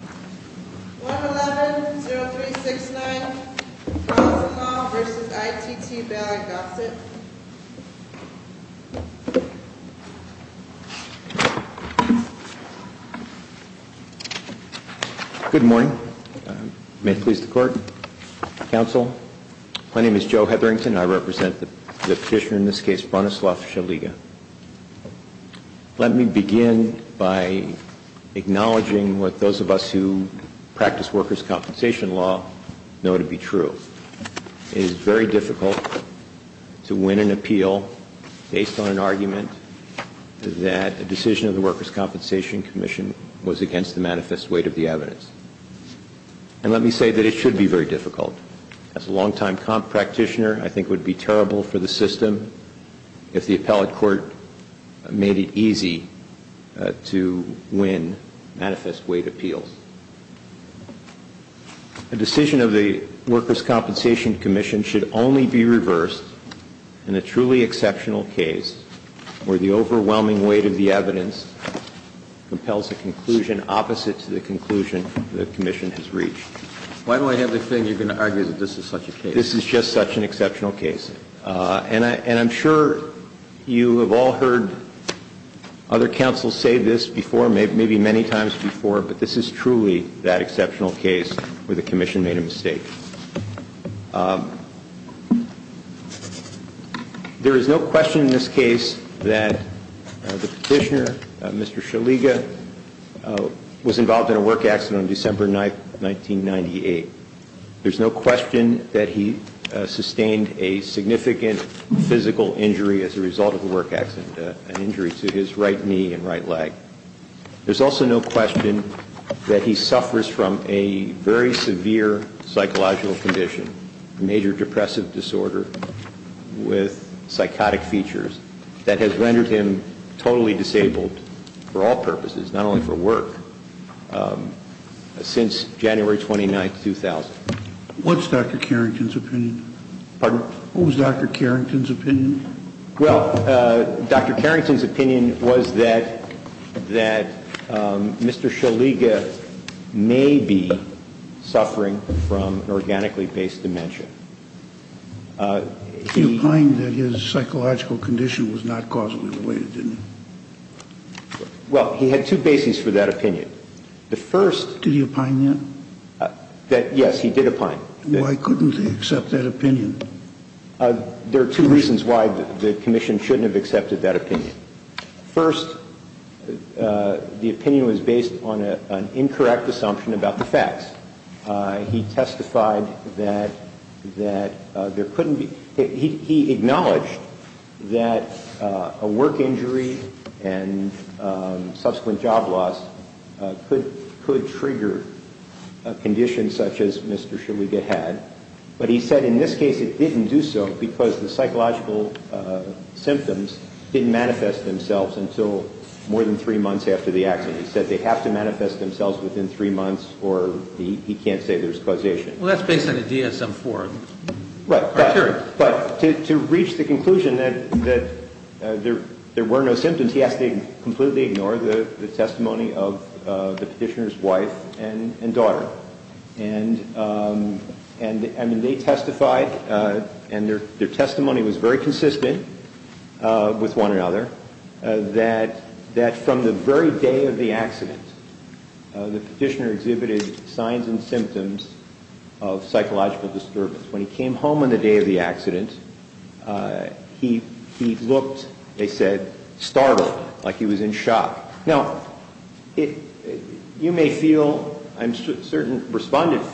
1-11-0369 Bronislaw v. ITT Ballant Gossett Good morning. May it please the court, counsel. My name is Joe Hetherington. I represent the petitioner in this case, Bronislaw Szzeliga. Let me begin by acknowledging what those of us who practice workers' compensation law know to be true. It is very difficult to win an appeal based on an argument that a decision of the Workers' Compensation Commission was against the manifest weight of the evidence. And let me say that it should be very difficult. As a long-time practitioner, I think it would be terrible for the system if the appellate court made it easy to win manifest weight appeals. A decision of the Workers' Compensation Commission should only be reversed in a truly exceptional case where the overwhelming weight of the evidence compels a conclusion opposite to the conclusion the commission has reached. Why do I have the feeling you're going to argue that this is such a case? This is just such an exceptional case. And I'm sure you have all heard other counsels say this before, maybe many times before, but this is truly that exceptional case where the commission made a mistake. There is no question in this case that the petitioner, Mr. Szzeliga, was involved in a work accident on December 9, 1998. There's no question that he sustained a significant physical injury as a result of the work accident, an injury to his right knee and right leg. There's also no question that he suffers from a very severe psychological condition, a major depressive disorder with psychotic features that has rendered him totally disabled for all purposes, not only for work, since January 29, 2000. What's Dr. Carrington's opinion? What was Dr. Carrington's opinion? Well, Dr. Carrington's opinion was that Mr. Szzeliga may be suffering from organically based dementia. He opined that his psychological condition was not causally related, didn't he? Well, he had two bases for that opinion. Did he opine that? Yes, he did opine. Why couldn't he accept that opinion? There are two reasons why the Commission shouldn't have accepted that opinion. First, the opinion was based on an incorrect assumption about the facts. He testified that there couldn't be – he acknowledged that a work injury and subsequent job loss could trigger a condition such as Mr. Szzeliga had. But he said in this case it didn't do so because the psychological symptoms didn't manifest themselves until more than three months after the accident. He said they have to manifest themselves within three months or he can't say there's causation. Well, that's based on the DSM-IV criteria. Right. But to reach the conclusion that there were no symptoms, he has to completely ignore the testimony of the Petitioner's wife and daughter. And they testified, and their testimony was very consistent with one another, that from the very day of the accident, the Petitioner exhibited signs and symptoms of psychological disturbance. When he came home on the day of the accident, he looked, they said, startled, like he was in shock. Now, you may feel, and certain respondents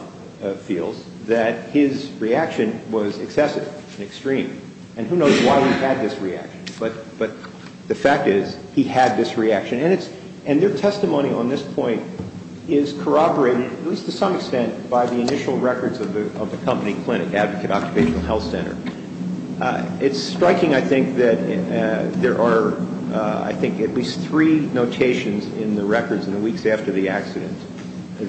feel, that his reaction was excessive and extreme. And who knows why he had this reaction. But the fact is he had this reaction. And their testimony on this point is corroborated, at least to some extent, by the initial records of the company clinic, Advocate Occupational Health Center. It's striking, I think, that there are, I think, at least three notations in the records in the weeks after the accident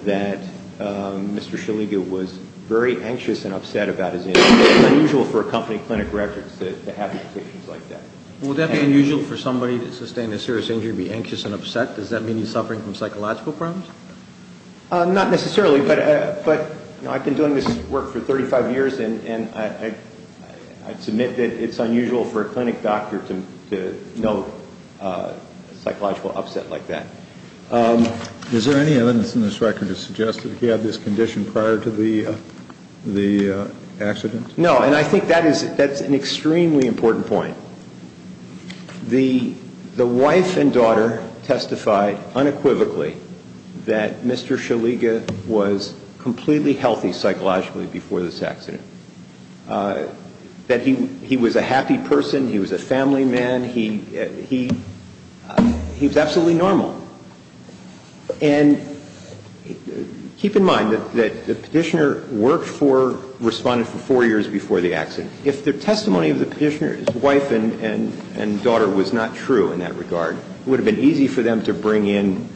that Mr. Shaliga was very anxious and upset about his injury. It's unusual for a company clinic records to have notations like that. Would that be unusual for somebody that sustained a serious injury to be anxious and upset? Does that mean he's suffering from psychological problems? Not necessarily. But I've been doing this work for 35 years, and I'd submit that it's unusual for a clinic doctor to note a psychological upset like that. Is there any evidence in this record to suggest that he had this condition prior to the accident? No. And I think that's an extremely important point. The wife and daughter testified unequivocally that Mr. Shaliga was completely healthy psychologically before this accident, that he was a happy person, he was a family man, he was absolutely normal. And keep in mind that the petitioner worked for, responded for four years before the accident. If the testimony of the petitioner's wife and daughter was not true in that regard, it would have been easy for them to bring in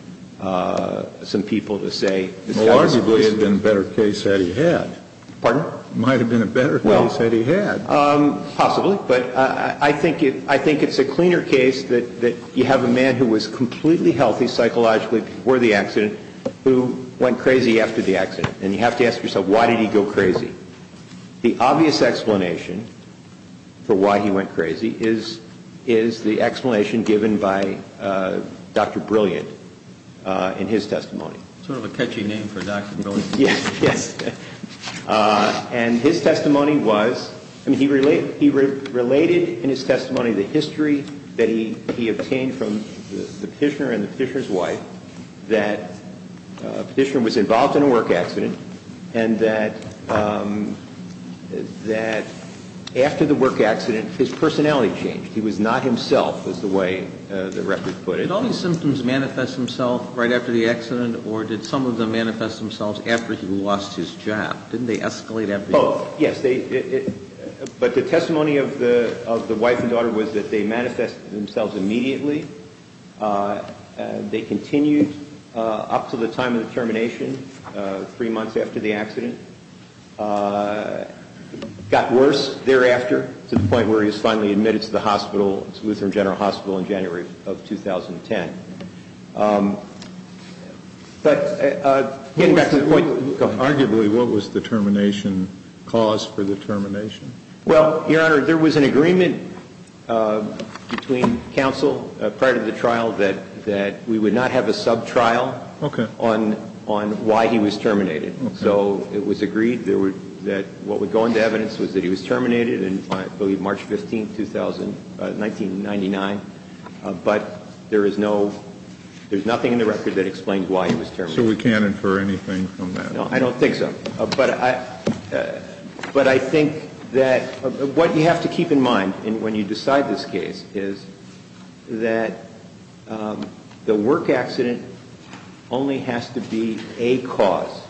some people to say this guy was crazy. Well, arguably it would have been a better case had he had. Pardon? It might have been a better case had he had. Possibly. But I think it's a cleaner case that you have a man who was completely healthy psychologically before the accident who went crazy after the accident. And you have to ask yourself, why did he go crazy? The obvious explanation for why he went crazy is the explanation given by Dr. Brilliant in his testimony. Sort of a catchy name for Dr. Brilliant. Yes. And his testimony was, I mean, he related in his testimony the history that he obtained from the petitioner and the petitioner's wife, that the petitioner was involved in a work accident, and that after the work accident, his personality changed. He was not himself, as the way the record put it. Did all these symptoms manifest themselves right after the accident, or did some of them manifest themselves after he lost his job? Didn't they escalate after he lost his job? Oh, yes. But the testimony of the wife and daughter was that they manifested themselves immediately. They continued up to the time of the termination, three months after the accident. Got worse thereafter to the point where he was finally admitted to the hospital, to Lutheran General Hospital, in January of 2010. Arguably, what was the termination cause for the termination? Well, Your Honor, there was an agreement between counsel prior to the trial that we would not have a sub-trial on why he was terminated. So it was agreed that what would go into evidence was that he was terminated in, I believe, March 15, 1999. But there is nothing in the record that explains why he was terminated. So we can't infer anything from that? No, I don't think so. But I think that what you have to keep in mind when you decide this case is that the work accident only has to be a cause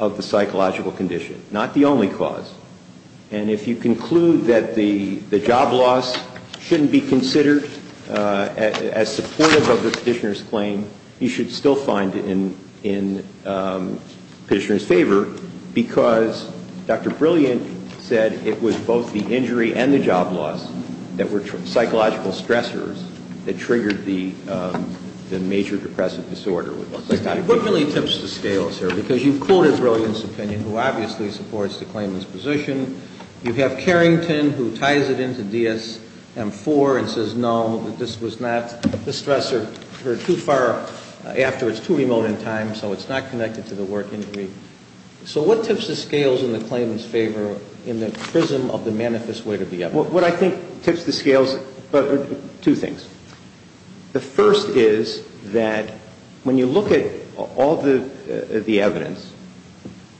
of the psychological condition, not the only cause. And if you conclude that the job loss shouldn't be considered as supportive of the petitioner's claim, you should still find it in the petitioner's favor because Dr. Brilliant said it was both the injury and the job loss that were psychological stressors that triggered the major depressive disorder. What really tips the scales here? Because you've quoted Brilliant's opinion, who obviously supports the claimant's position. You have Carrington, who ties it into DSM-IV and says, no, this was not the stressor. You're too far after. It's too remote in time, so it's not connected to the work injury. So what tips the scales in the claimant's favor in the prism of the manifest way to be evidence? What I think tips the scales are two things. The first is that when you look at all the evidence,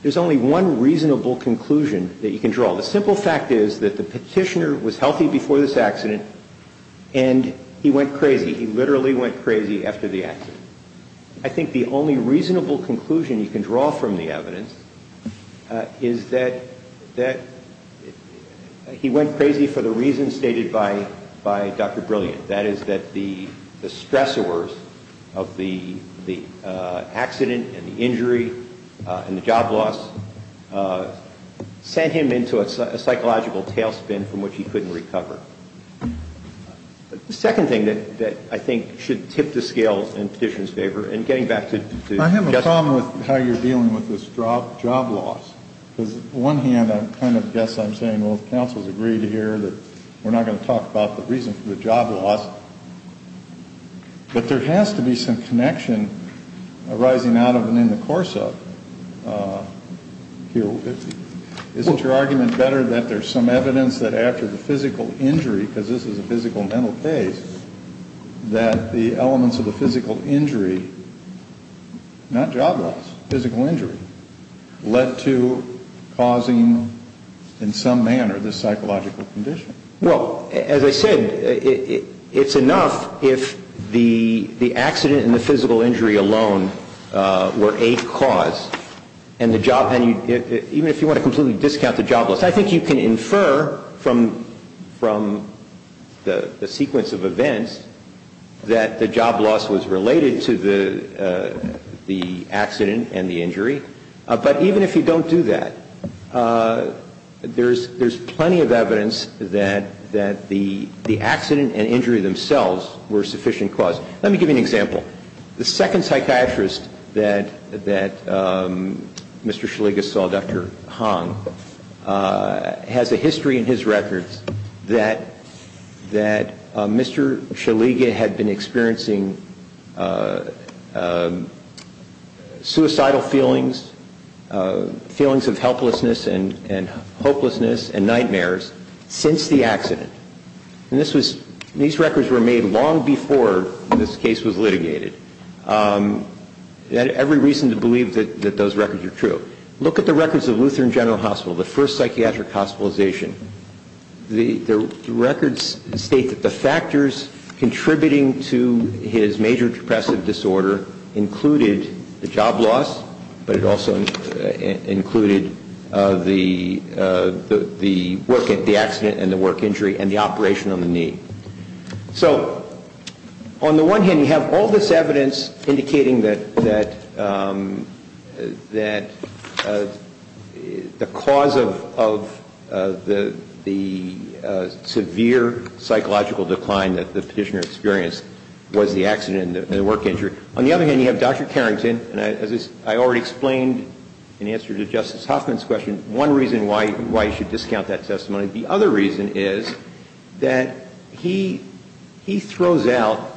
there's only one reasonable conclusion that you can draw. The simple fact is that the petitioner was healthy before this accident and he went crazy. He literally went crazy after the accident. I think the only reasonable conclusion you can draw from the evidence is that he went crazy for the reasons stated by Dr. Brilliant. That is that the stressors of the accident and the injury and the job loss sent him into a psychological tailspin from which he couldn't recover. The second thing that I think should tip the scales in the petitioner's favor, and getting back to Justin. I have a problem with how you're dealing with this job loss. On the one hand, I guess I'm saying, well, if counsel's agreed here, we're not going to talk about the reason for the job loss. But there has to be some connection arising out of and in the course of. Isn't your argument better that there's some evidence that after the physical injury, because this is a physical mental case, that the elements of the physical injury, not job loss, physical injury, led to causing in some manner this psychological condition? Well, as I said, it's enough if the accident and the physical injury alone were a cause and the job, even if you want to completely discount the job loss. I think you can infer from the sequence of events that the job loss was related to the accident and the injury. But even if you don't do that, there's plenty of evidence that the accident and injury themselves were sufficient cause. Let me give you an example. The second psychiatrist that Mr. Shaliga saw, Dr. Hong, has a history in his records that Mr. Shaliga had been experiencing suicidal feelings, feelings of helplessness and hopelessness and nightmares since the accident. And these records were made long before this case was litigated. Every reason to believe that those records are true. Look at the records of Lutheran General Hospital, the first psychiatric hospitalization. The records state that the factors contributing to his major depressive disorder included the job loss, but it also included the accident and the work injury and the operation on the knee. So on the one hand, you have all this evidence indicating that the cause of the severe psychological decline that the petitioner experienced was the accident and the work injury. On the other hand, you have Dr. Carrington, and as I already explained in answer to Justice Hoffman's question, one reason why you should discount that testimony. The other reason is that he throws out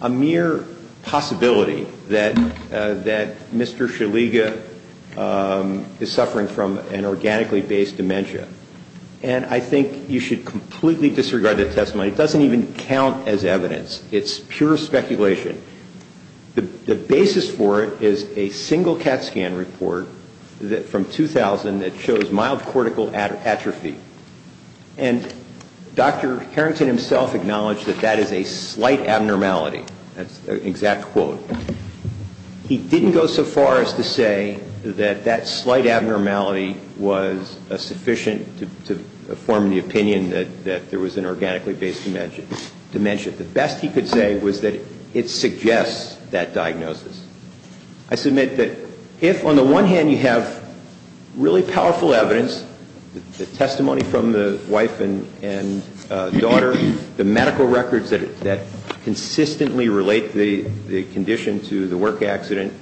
a mere possibility that Mr. Shaliga is suffering from an organically based dementia. And I think you should completely disregard that testimony. It doesn't even count as evidence. It's pure speculation. The basis for it is a single CAT scan report from 2000 that shows mild cortical atrophy. And Dr. Carrington himself acknowledged that that is a slight abnormality. That's an exact quote. He didn't go so far as to say that that slight abnormality was sufficient to form the opinion that there was an organically based dementia. The best he could say was that it suggests that diagnosis. I submit that if on the one hand you have really powerful evidence, the testimony from the wife and daughter, the medical records that consistently relate the condition to the work accident,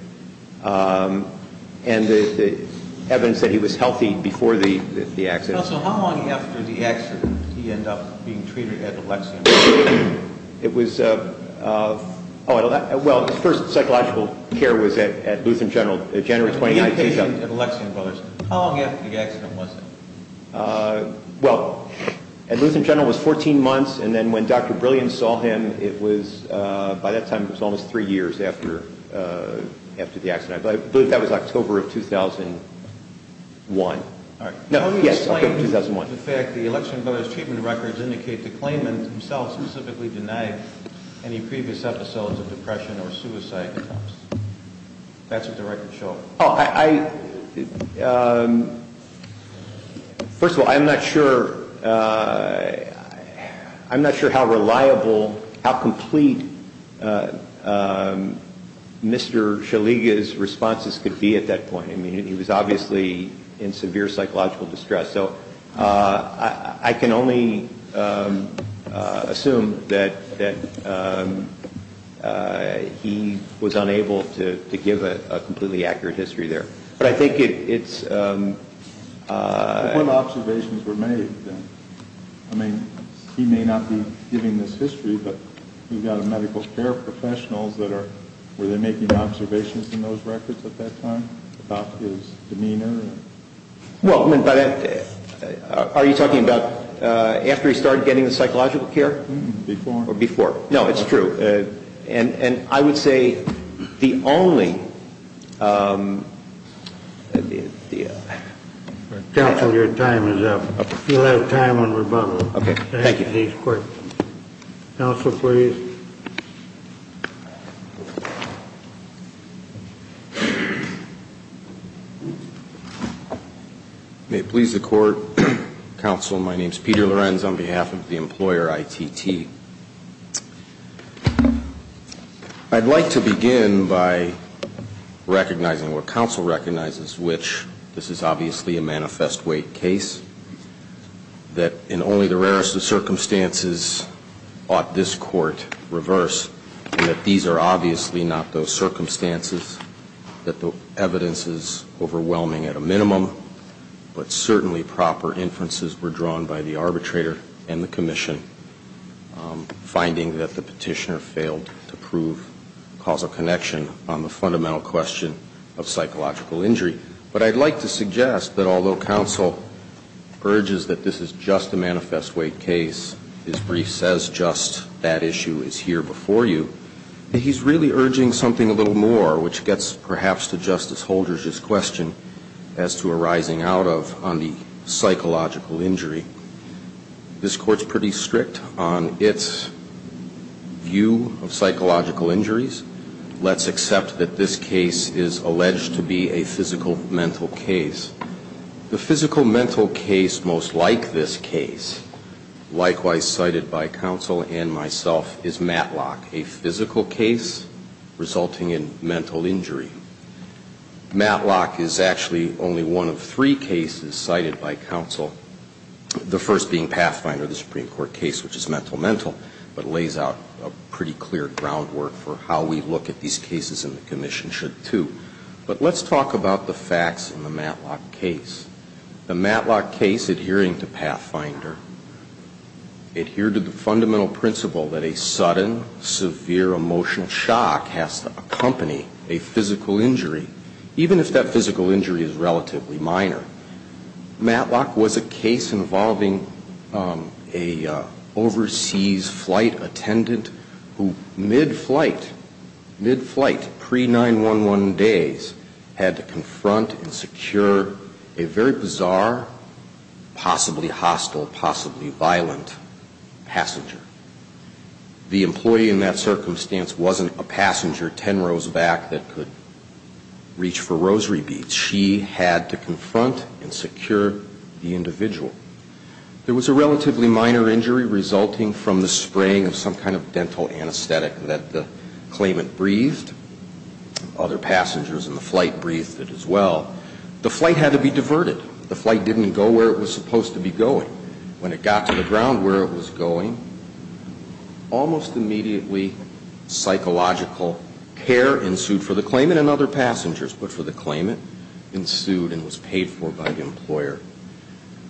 and the evidence that he was healthy before the accident. So how long after the accident did he end up being treated at Alexian Brothers? Well, his first psychological care was at Lutheran General January 29th. How long after the accident was it? Well, Lutheran General was 14 months, and then when Dr. Brillian saw him, by that time it was almost three years after the accident. I believe that was October of 2001. How do you explain the fact that the Alexian Brothers treatment records indicate the claimant himself specifically denied any previous episodes of depression or suicide attempts? That's what the records show. First of all, I'm not sure how reliable, how complete Mr. Shaliga's responses could be at that point. I mean, he was obviously in severe psychological distress. So I can only assume that he was unable to give a completely accurate history there. But I think it's – But what observations were made? I mean, he may not be giving this history, but we've got a medical care professionals that are – Do you have any observations in those records at that time about his demeanor? Well, are you talking about after he started getting the psychological care? Before. Before. No, it's true. And I would say the only – Counsel, your time is up. You'll have time on rebuttal. Thank you. Counsel, please. May it please the Court. Counsel, my name is Peter Lorenz on behalf of the employer ITT. I'd like to begin by recognizing what counsel recognizes, which this is obviously a manifest weight case, that in only the rarest of circumstances ought this Court reverse, and that these are obviously not those circumstances, that the evidence is overwhelming at a minimum, but certainly proper inferences were drawn by the arbitrator and the commission, finding that the petitioner failed to prove causal connection on the fundamental question of psychological injury. But I'd like to suggest that although counsel urges that this is just a manifest weight case, his brief says just that issue is here before you, that he's really urging something a little more, which gets perhaps to Justice Holder's question as to arising out of on the psychological injury. This Court's pretty strict on its view of psychological injuries. Let's accept that this case is alleged to be a physical mental case. The physical mental case most like this case, likewise cited by counsel and myself, is Matlock, a physical case resulting in mental injury. Matlock is actually only one of three cases cited by counsel, the first being Pathfinder, the Supreme Court case, which is mental mental, but lays out a pretty clear groundwork for how we look at these cases and the commission should too. But let's talk about the facts in the Matlock case. The Matlock case adhering to Pathfinder adhered to the fundamental principle that a sudden, severe emotional shock has to accompany a physical injury, even if that physical injury is relatively minor. Matlock was a case involving an overseas flight attendant who mid-flight, mid-flight, pre-9-1-1 days, had to confront and secure a very bizarre, possibly hostile, possibly violent passenger. The employee in that circumstance wasn't a passenger ten rows back that could reach for rosary beads. She had to confront and secure the individual. There was a relatively minor injury resulting from the spraying of some kind of dental anesthetic that the claimant breathed. Other passengers in the flight breathed it as well. The flight had to be diverted. The flight didn't go where it was supposed to be going. When it got to the ground where it was going, almost immediately psychological care ensued for the claimant and other passengers. But for the claimant, ensued and was paid for by the employer.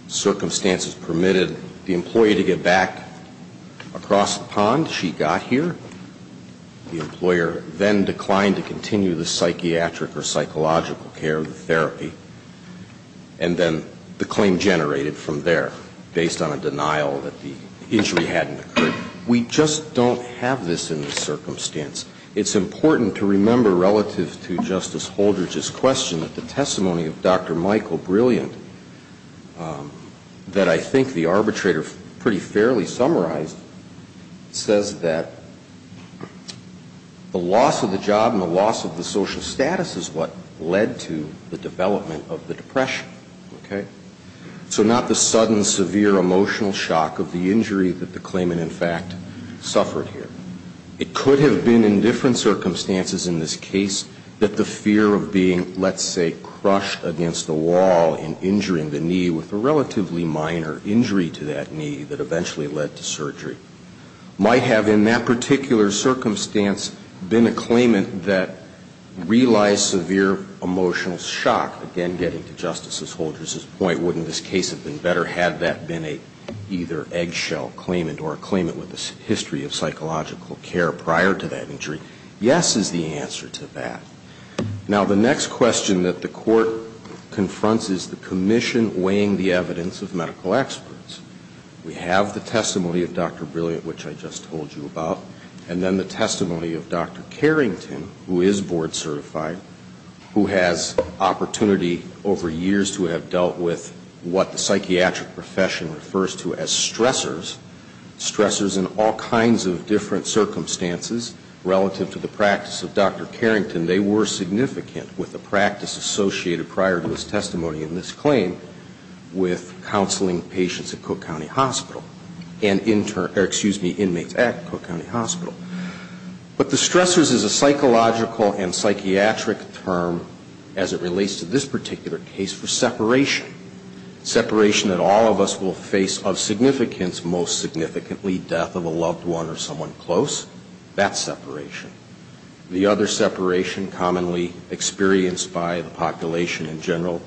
Circumstances permitted the employee to get back across the pond. She got here. The employer then declined to continue the psychiatric or psychological care of the therapy. And then the claim generated from there, based on a denial that the injury hadn't occurred. We just don't have this in the circumstance. It's important to remember relative to Justice Holdridge's question that the testimony of Dr. Michael Brilliant, that I think the arbitrator pretty fairly summarized, says that the loss of the job and the loss of the social status is what led to the development of the depression. Okay? So not the sudden severe emotional shock of the injury that the claimant in fact suffered here. It could have been in different circumstances in this case that the fear of being, let's say, might have in that particular circumstance been a claimant that realized severe emotional shock. Again, getting to Justice Holdridge's point, wouldn't this case have been better had that been either an eggshell claimant or a claimant with a history of psychological care prior to that injury? Yes is the answer to that. Now, the next question that the Court confronts is the commission weighing the evidence of medical experts. We have the testimony of Dr. Brilliant, which I just told you about, and then the testimony of Dr. Carrington, who is board certified, who has opportunity over years to have dealt with what the psychiatric profession refers to as stressors, stressors in all kinds of different circumstances relative to the practice of Dr. Carrington. They were significant with the practice associated prior to his testimony in this claim with counseling patients at Cook County Hospital and inmates at Cook County Hospital. But the stressors is a psychological and psychiatric term as it relates to this particular case for separation, separation that all of us will face of significance, most significantly death of a loved one or someone close. That's separation. The other separation commonly experienced by the population in general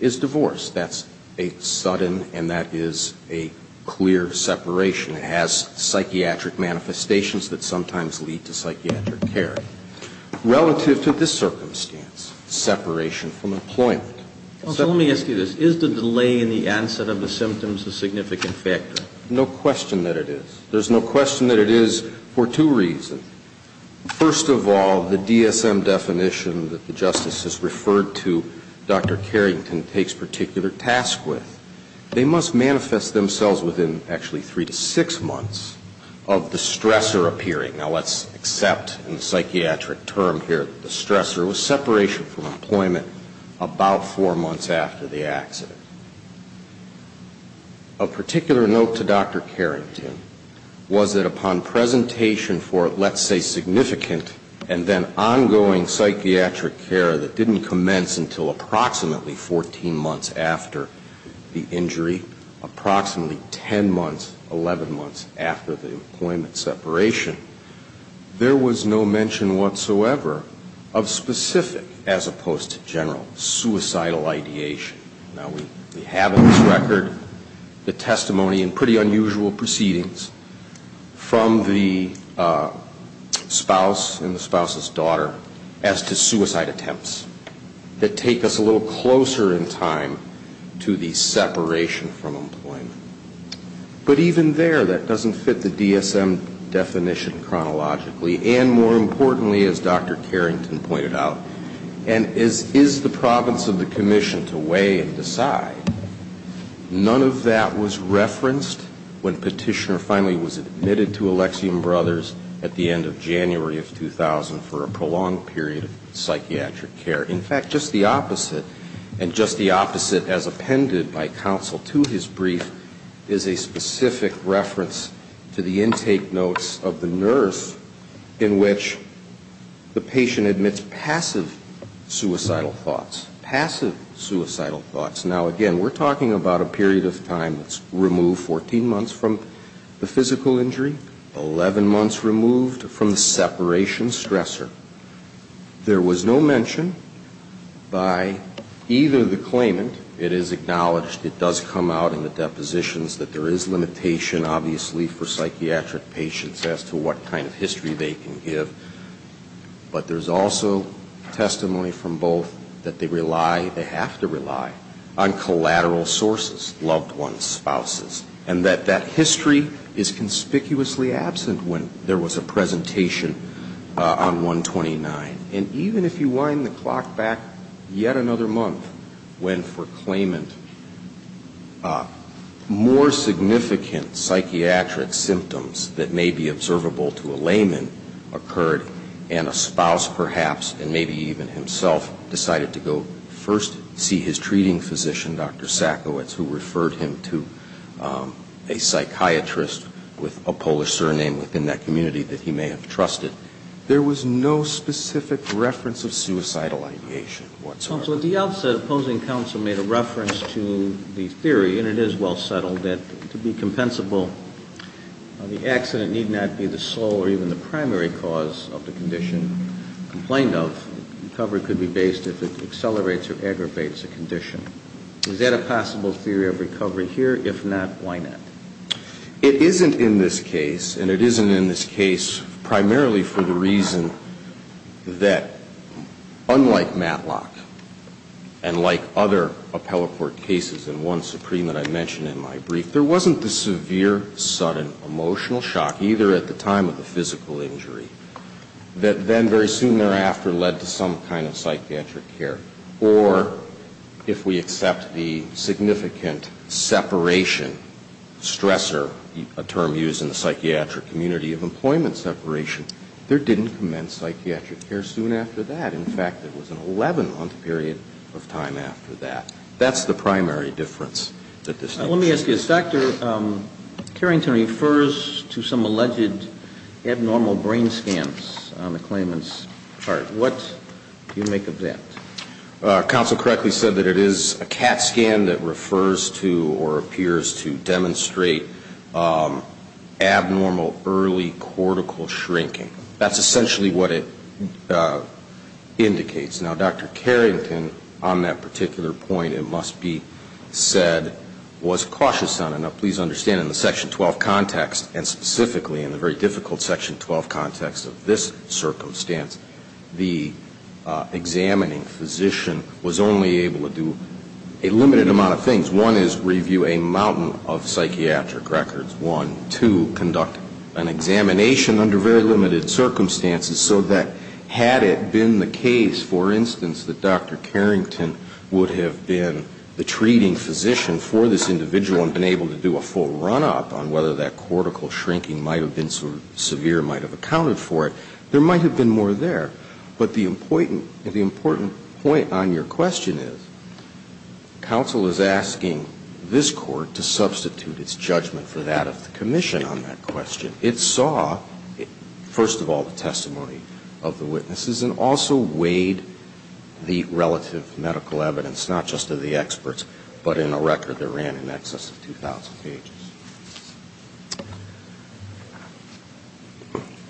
is divorce. That's a sudden and that is a clear separation. It has psychiatric manifestations that sometimes lead to psychiatric care. Relative to this circumstance, separation from employment. So let me ask you this. Is the delay in the onset of the symptoms a significant factor? No question that it is. There's no question that it is for two reasons. First of all, the DSM definition that the Justice has referred to Dr. Carrington takes particular task with. They must manifest themselves within actually three to six months of the stressor appearing. Now, let's accept in the psychiatric term here that the stressor was separation from employment about four months after the accident. A particular note to Dr. Carrington was that upon presentation for let's say significant and then ongoing psychiatric care that didn't commence until approximately 14 months after the injury, approximately 10 months, 11 months after the employment separation, there was no mention whatsoever of specific as opposed to general suicidal ideation. Now, we have on this record the testimony and pretty unusual proceedings from the spouse and the spouse's daughter as to suicide attempts that take us a little closer in time to the separation from employment. But even there, that doesn't fit the DSM definition chronologically and more importantly as Dr. Carrington pointed out. And as is the province of the commission to weigh and decide, none of that was referenced when Petitioner finally was admitted to Alexiom Brothers at the end of January of 2000 for a prolonged period of psychiatric care. In fact, just the opposite, and just the opposite as appended by counsel to his brief, is a specific reference to the intake notes of the nurse in which the patient admits passive suicidal thoughts. Passive suicidal thoughts. Now, again, we're talking about a period of time that's removed 14 months from the physical injury, 11 months removed from the separation stressor. There was no mention by either the claimant, it is acknowledged, it does come out in the depositions, that there is limitation obviously for psychiatric patients as to what kind of history they can give. But there's also testimony from both that they rely, they have to rely, on collateral sources, loved ones, spouses. And that that history is conspicuously absent when there was a presentation on 129. And even if you wind the clock back yet another month, when for claimant more significant psychiatric symptoms that may be observable to a layman occurred, and a spouse perhaps, and maybe even himself, decided to go first see his treating physician, Dr. Sackowitz, who referred him to a psychiatrist with a Polish surname within that community that he may have trusted, there was no specific reference of suicidal ideation whatsoever. So at the outset, opposing counsel made a reference to the theory, and it is well settled, that to be compensable, the accident need not be the sole or even the primary cause of the condition complained of. Recovery could be based if it accelerates or aggravates the condition. Is that a possible theory of recovery here? If not, why not? It isn't in this case, and it isn't in this case primarily for the reason that unlike Matlock and like other appellate court cases, and one supreme that I mentioned in my brief, there wasn't the severe sudden emotional shock either at the time of the physical injury that then very soon thereafter led to some kind of psychiatric care. Or if we accept the significant separation, stressor, a term used in the psychiatric community of employment separation, there didn't commence psychiatric care soon after that. In fact, there was an 11-month period of time after that. That's the primary difference that this makes. Let me ask you this. Dr. Carrington refers to some alleged abnormal brain scans on the claimant's part. What do you make of that? Counsel correctly said that it is a CAT scan that refers to or appears to demonstrate abnormal early cortical shrinking. That's essentially what it indicates. Now, Dr. Carrington on that particular point, it must be said, was cautious on it. Now, please understand in the Section 12 context, and specifically in the very difficult Section 12 context of this circumstance, the examining physician was only able to do a limited amount of things. One is review a mountain of psychiatric records. One, two, conduct an examination under very limited circumstances so that had it been the case, for instance, that Dr. Carrington would have been the treating physician for this individual and been able to do a full run-up on whether that cortical shrinking might have been severe, might have accounted for it, there might have been more there. But the important point on your question is counsel is asking this Court to substitute its judgment for that of the commission on that question. It saw, first of all, the testimony of the witnesses and also weighed the relative medical evidence, not just of the experts, but in a record that ran in excess of 2,000 pages.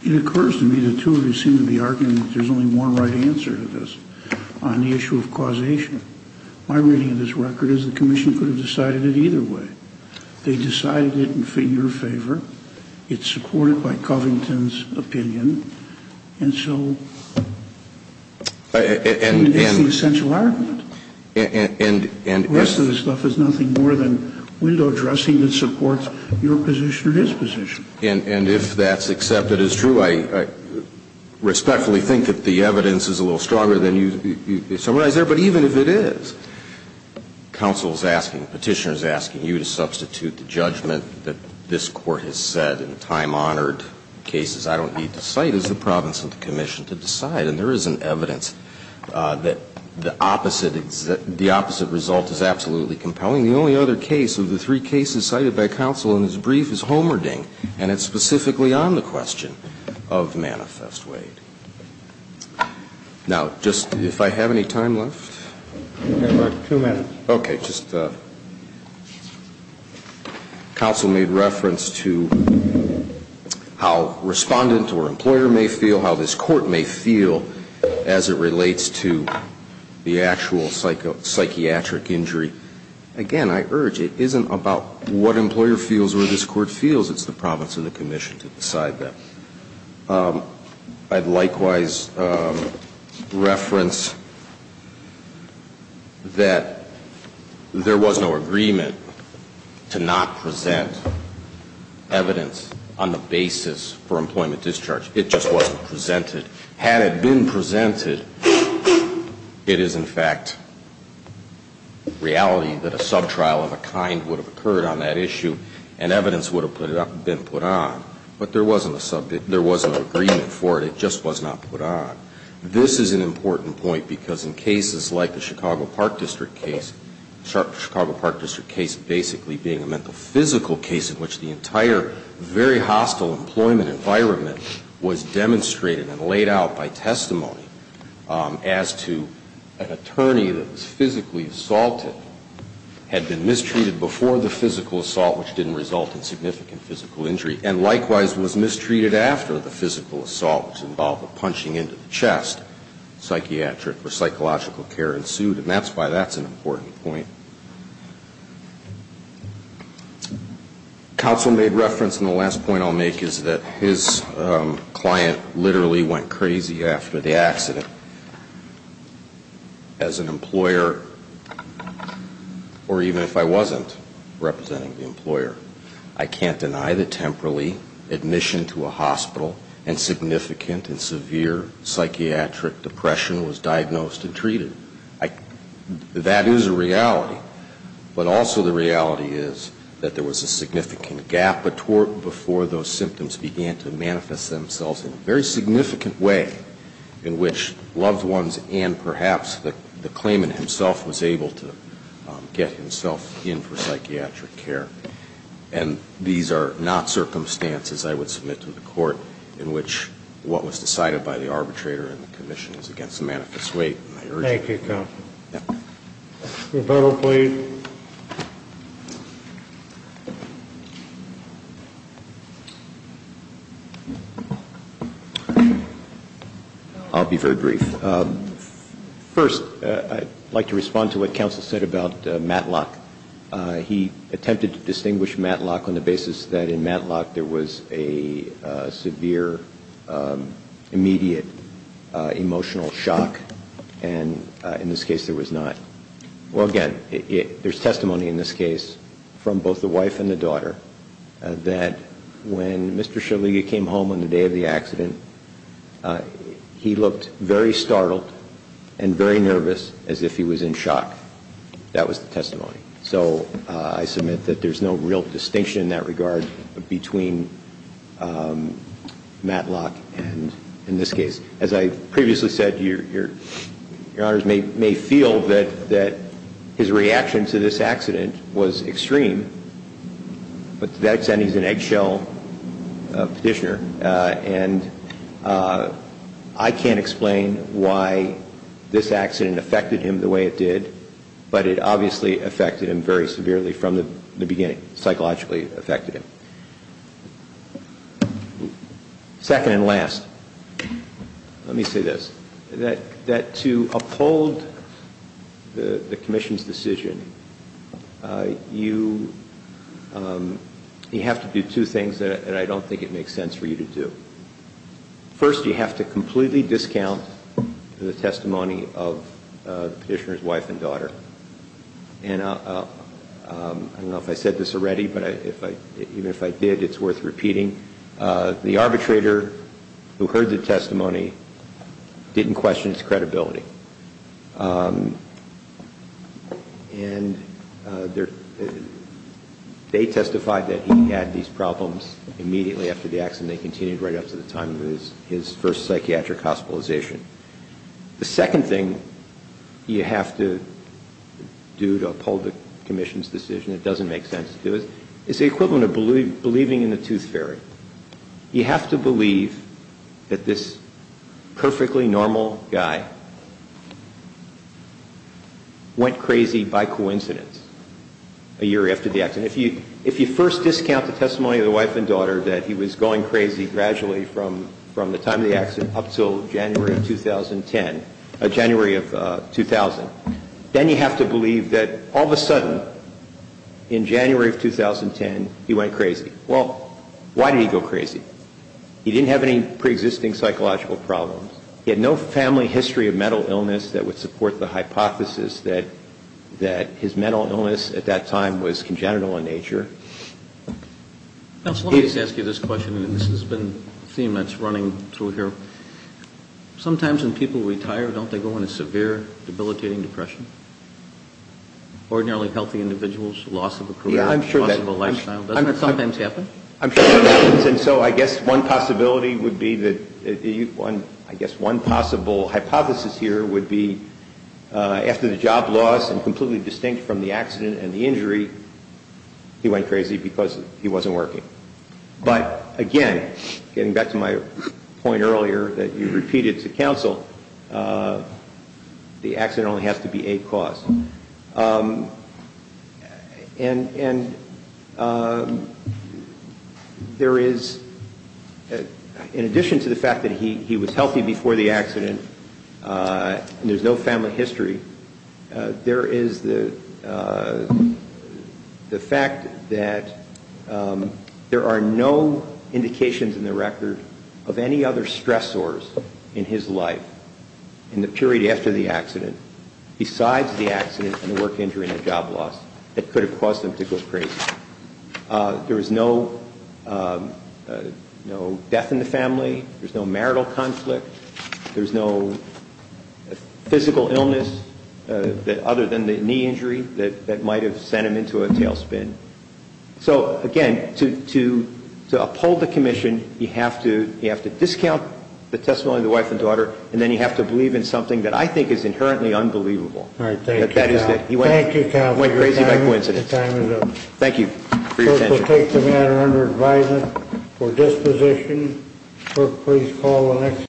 It occurs to me the two of you seem to be arguing that there's only one right answer to this on the issue of causation. My reading of this record is the commission could have decided it either way. They decided it in your favor. It's supported by Covington's opinion. And so it's the essential argument. And the rest of this stuff is nothing more than window dressing that supports your position or his position. And if that's accepted as true, I respectfully think that the evidence is a little stronger than you summarize there. But even if it is, counsel is asking, Petitioner is asking you to substitute the judgment that this Court has said in time-honored cases I don't need to cite as the province of the commission to decide. And there is an evidence that the opposite result is absolutely compelling. The only other case of the three cases cited by counsel in this brief is Homerding, and it's specifically on the question of Manifest Wade. Now, just if I have any time left. You have about two minutes. Okay. Counsel made reference to how respondent or employer may feel, how this Court may feel as it relates to the actual psychiatric injury. Again, I urge, it isn't about what employer feels or this Court feels. It's the province of the commission to decide that. I'd likewise reference that there was no agreement to not present evidence on the basis for employment discharge. It just wasn't presented. Had it been presented, it is, in fact, reality that a subtrial of a kind would have occurred on that issue and evidence would have been put on. But there wasn't a subject, there was no agreement for it. It just was not put on. This is an important point because in cases like the Chicago Park District case, the Chicago Park District case basically being a mental physical case in which the entire very hostile employment environment was demonstrated and laid out by testimony as to an attorney that was physically assaulted, had been mistreated before the physical injury and likewise was mistreated after the physical assault was involved with punching into the chest, psychiatric or psychological care ensued. And that's why that's an important point. Counsel made reference, and the last point I'll make is that his client literally went crazy after the accident. As an employer, or even if I wasn't representing the employer, I can't deny that temporally admission to a hospital and significant and severe psychiatric depression was diagnosed and treated. That is a reality. But also the reality is that there was a significant gap before those symptoms began to manifest themselves in a very significant way in which loved ones and perhaps the claimant himself was able to get himself in for psychiatric care. And these are not circumstances I would submit to the court in which what was decided by the arbitrator and the commission is against the manifest weight. Thank you, counsel. Your vote, please. I'll be very brief. First, I'd like to respond to what counsel said about Matlock. He attempted to distinguish Matlock on the basis that in Matlock there was a severe immediate emotional shock and in this case there was not. Well, again, there's testimony in this case from both the wife and the daughter that when Mr. Shaliga came home on the day of the accident, he looked very startled and very nervous as if he was in shock. That was the testimony. So I submit that there's no real distinction in that regard between Matlock and in this case. As I previously said, your honors may feel that his reaction to this accident was extreme, but to that extent he's an eggshell petitioner. And I can't explain why this accident affected him the way it did, but it obviously affected him very severely from the beginning, psychologically affected him. Second and last, let me say this. That to uphold the commission's decision, you have to do two things that I don't think it makes sense for you to do. First, you have to completely discount the testimony of the petitioner's wife and daughter. And I don't know if I said this already, but even if I did, it's worth repeating. The arbitrator who heard the testimony didn't question his credibility. And they testified that he had these problems immediately after the accident. They continued right up to the time of his first psychiatric hospitalization. The second thing you have to do to uphold the commission's decision, it doesn't make sense to do it, is the equivalent of believing in the tooth fairy. You have to believe that this perfectly normal guy went crazy by coincidence a year after the accident. If you first discount the testimony of the wife and daughter, that he was going crazy gradually from the time of the accident up until January of 2010, January of 2000, then you have to believe that all of a sudden, in January of 2010, he went crazy. Well, why did he go crazy? He didn't have any preexisting psychological problems. He had no family history of mental illness that would support the hypothesis that his mental illness at that time was congenital in nature. Let me just ask you this question, and this has been a theme that's running through here. Sometimes when people retire, don't they go into severe debilitating depression? Ordinarily healthy individuals, loss of a career, loss of a lifestyle, doesn't that sometimes happen? I'm sure it happens. And so I guess one possibility would be that one possible hypothesis here would be after the job loss, and completely distinct from the accident and the injury, he went crazy because he wasn't working. But, again, getting back to my point earlier that you repeated to counsel, the accident only has to be a cause. In addition to the fact that he was healthy before the accident and there's no family history, there is the fact that there are no indications in the record of any other stressors in his life in the period after the accident, besides the accident and the work injury and the job loss, that could have caused him to go crazy. There was no death in the family. There's no marital conflict. There's no physical illness other than the knee injury that might have sent him into a tailspin. So, again, to uphold the commission, you have to discount the testimony of the wife and daughter, and then you have to believe in something that I think is inherently unbelievable. Thank you, counsel. He went crazy by coincidence. The time is up. Thank you for your attention. Clerk will take the matter under advisement for disposition. Clerk, please call the next.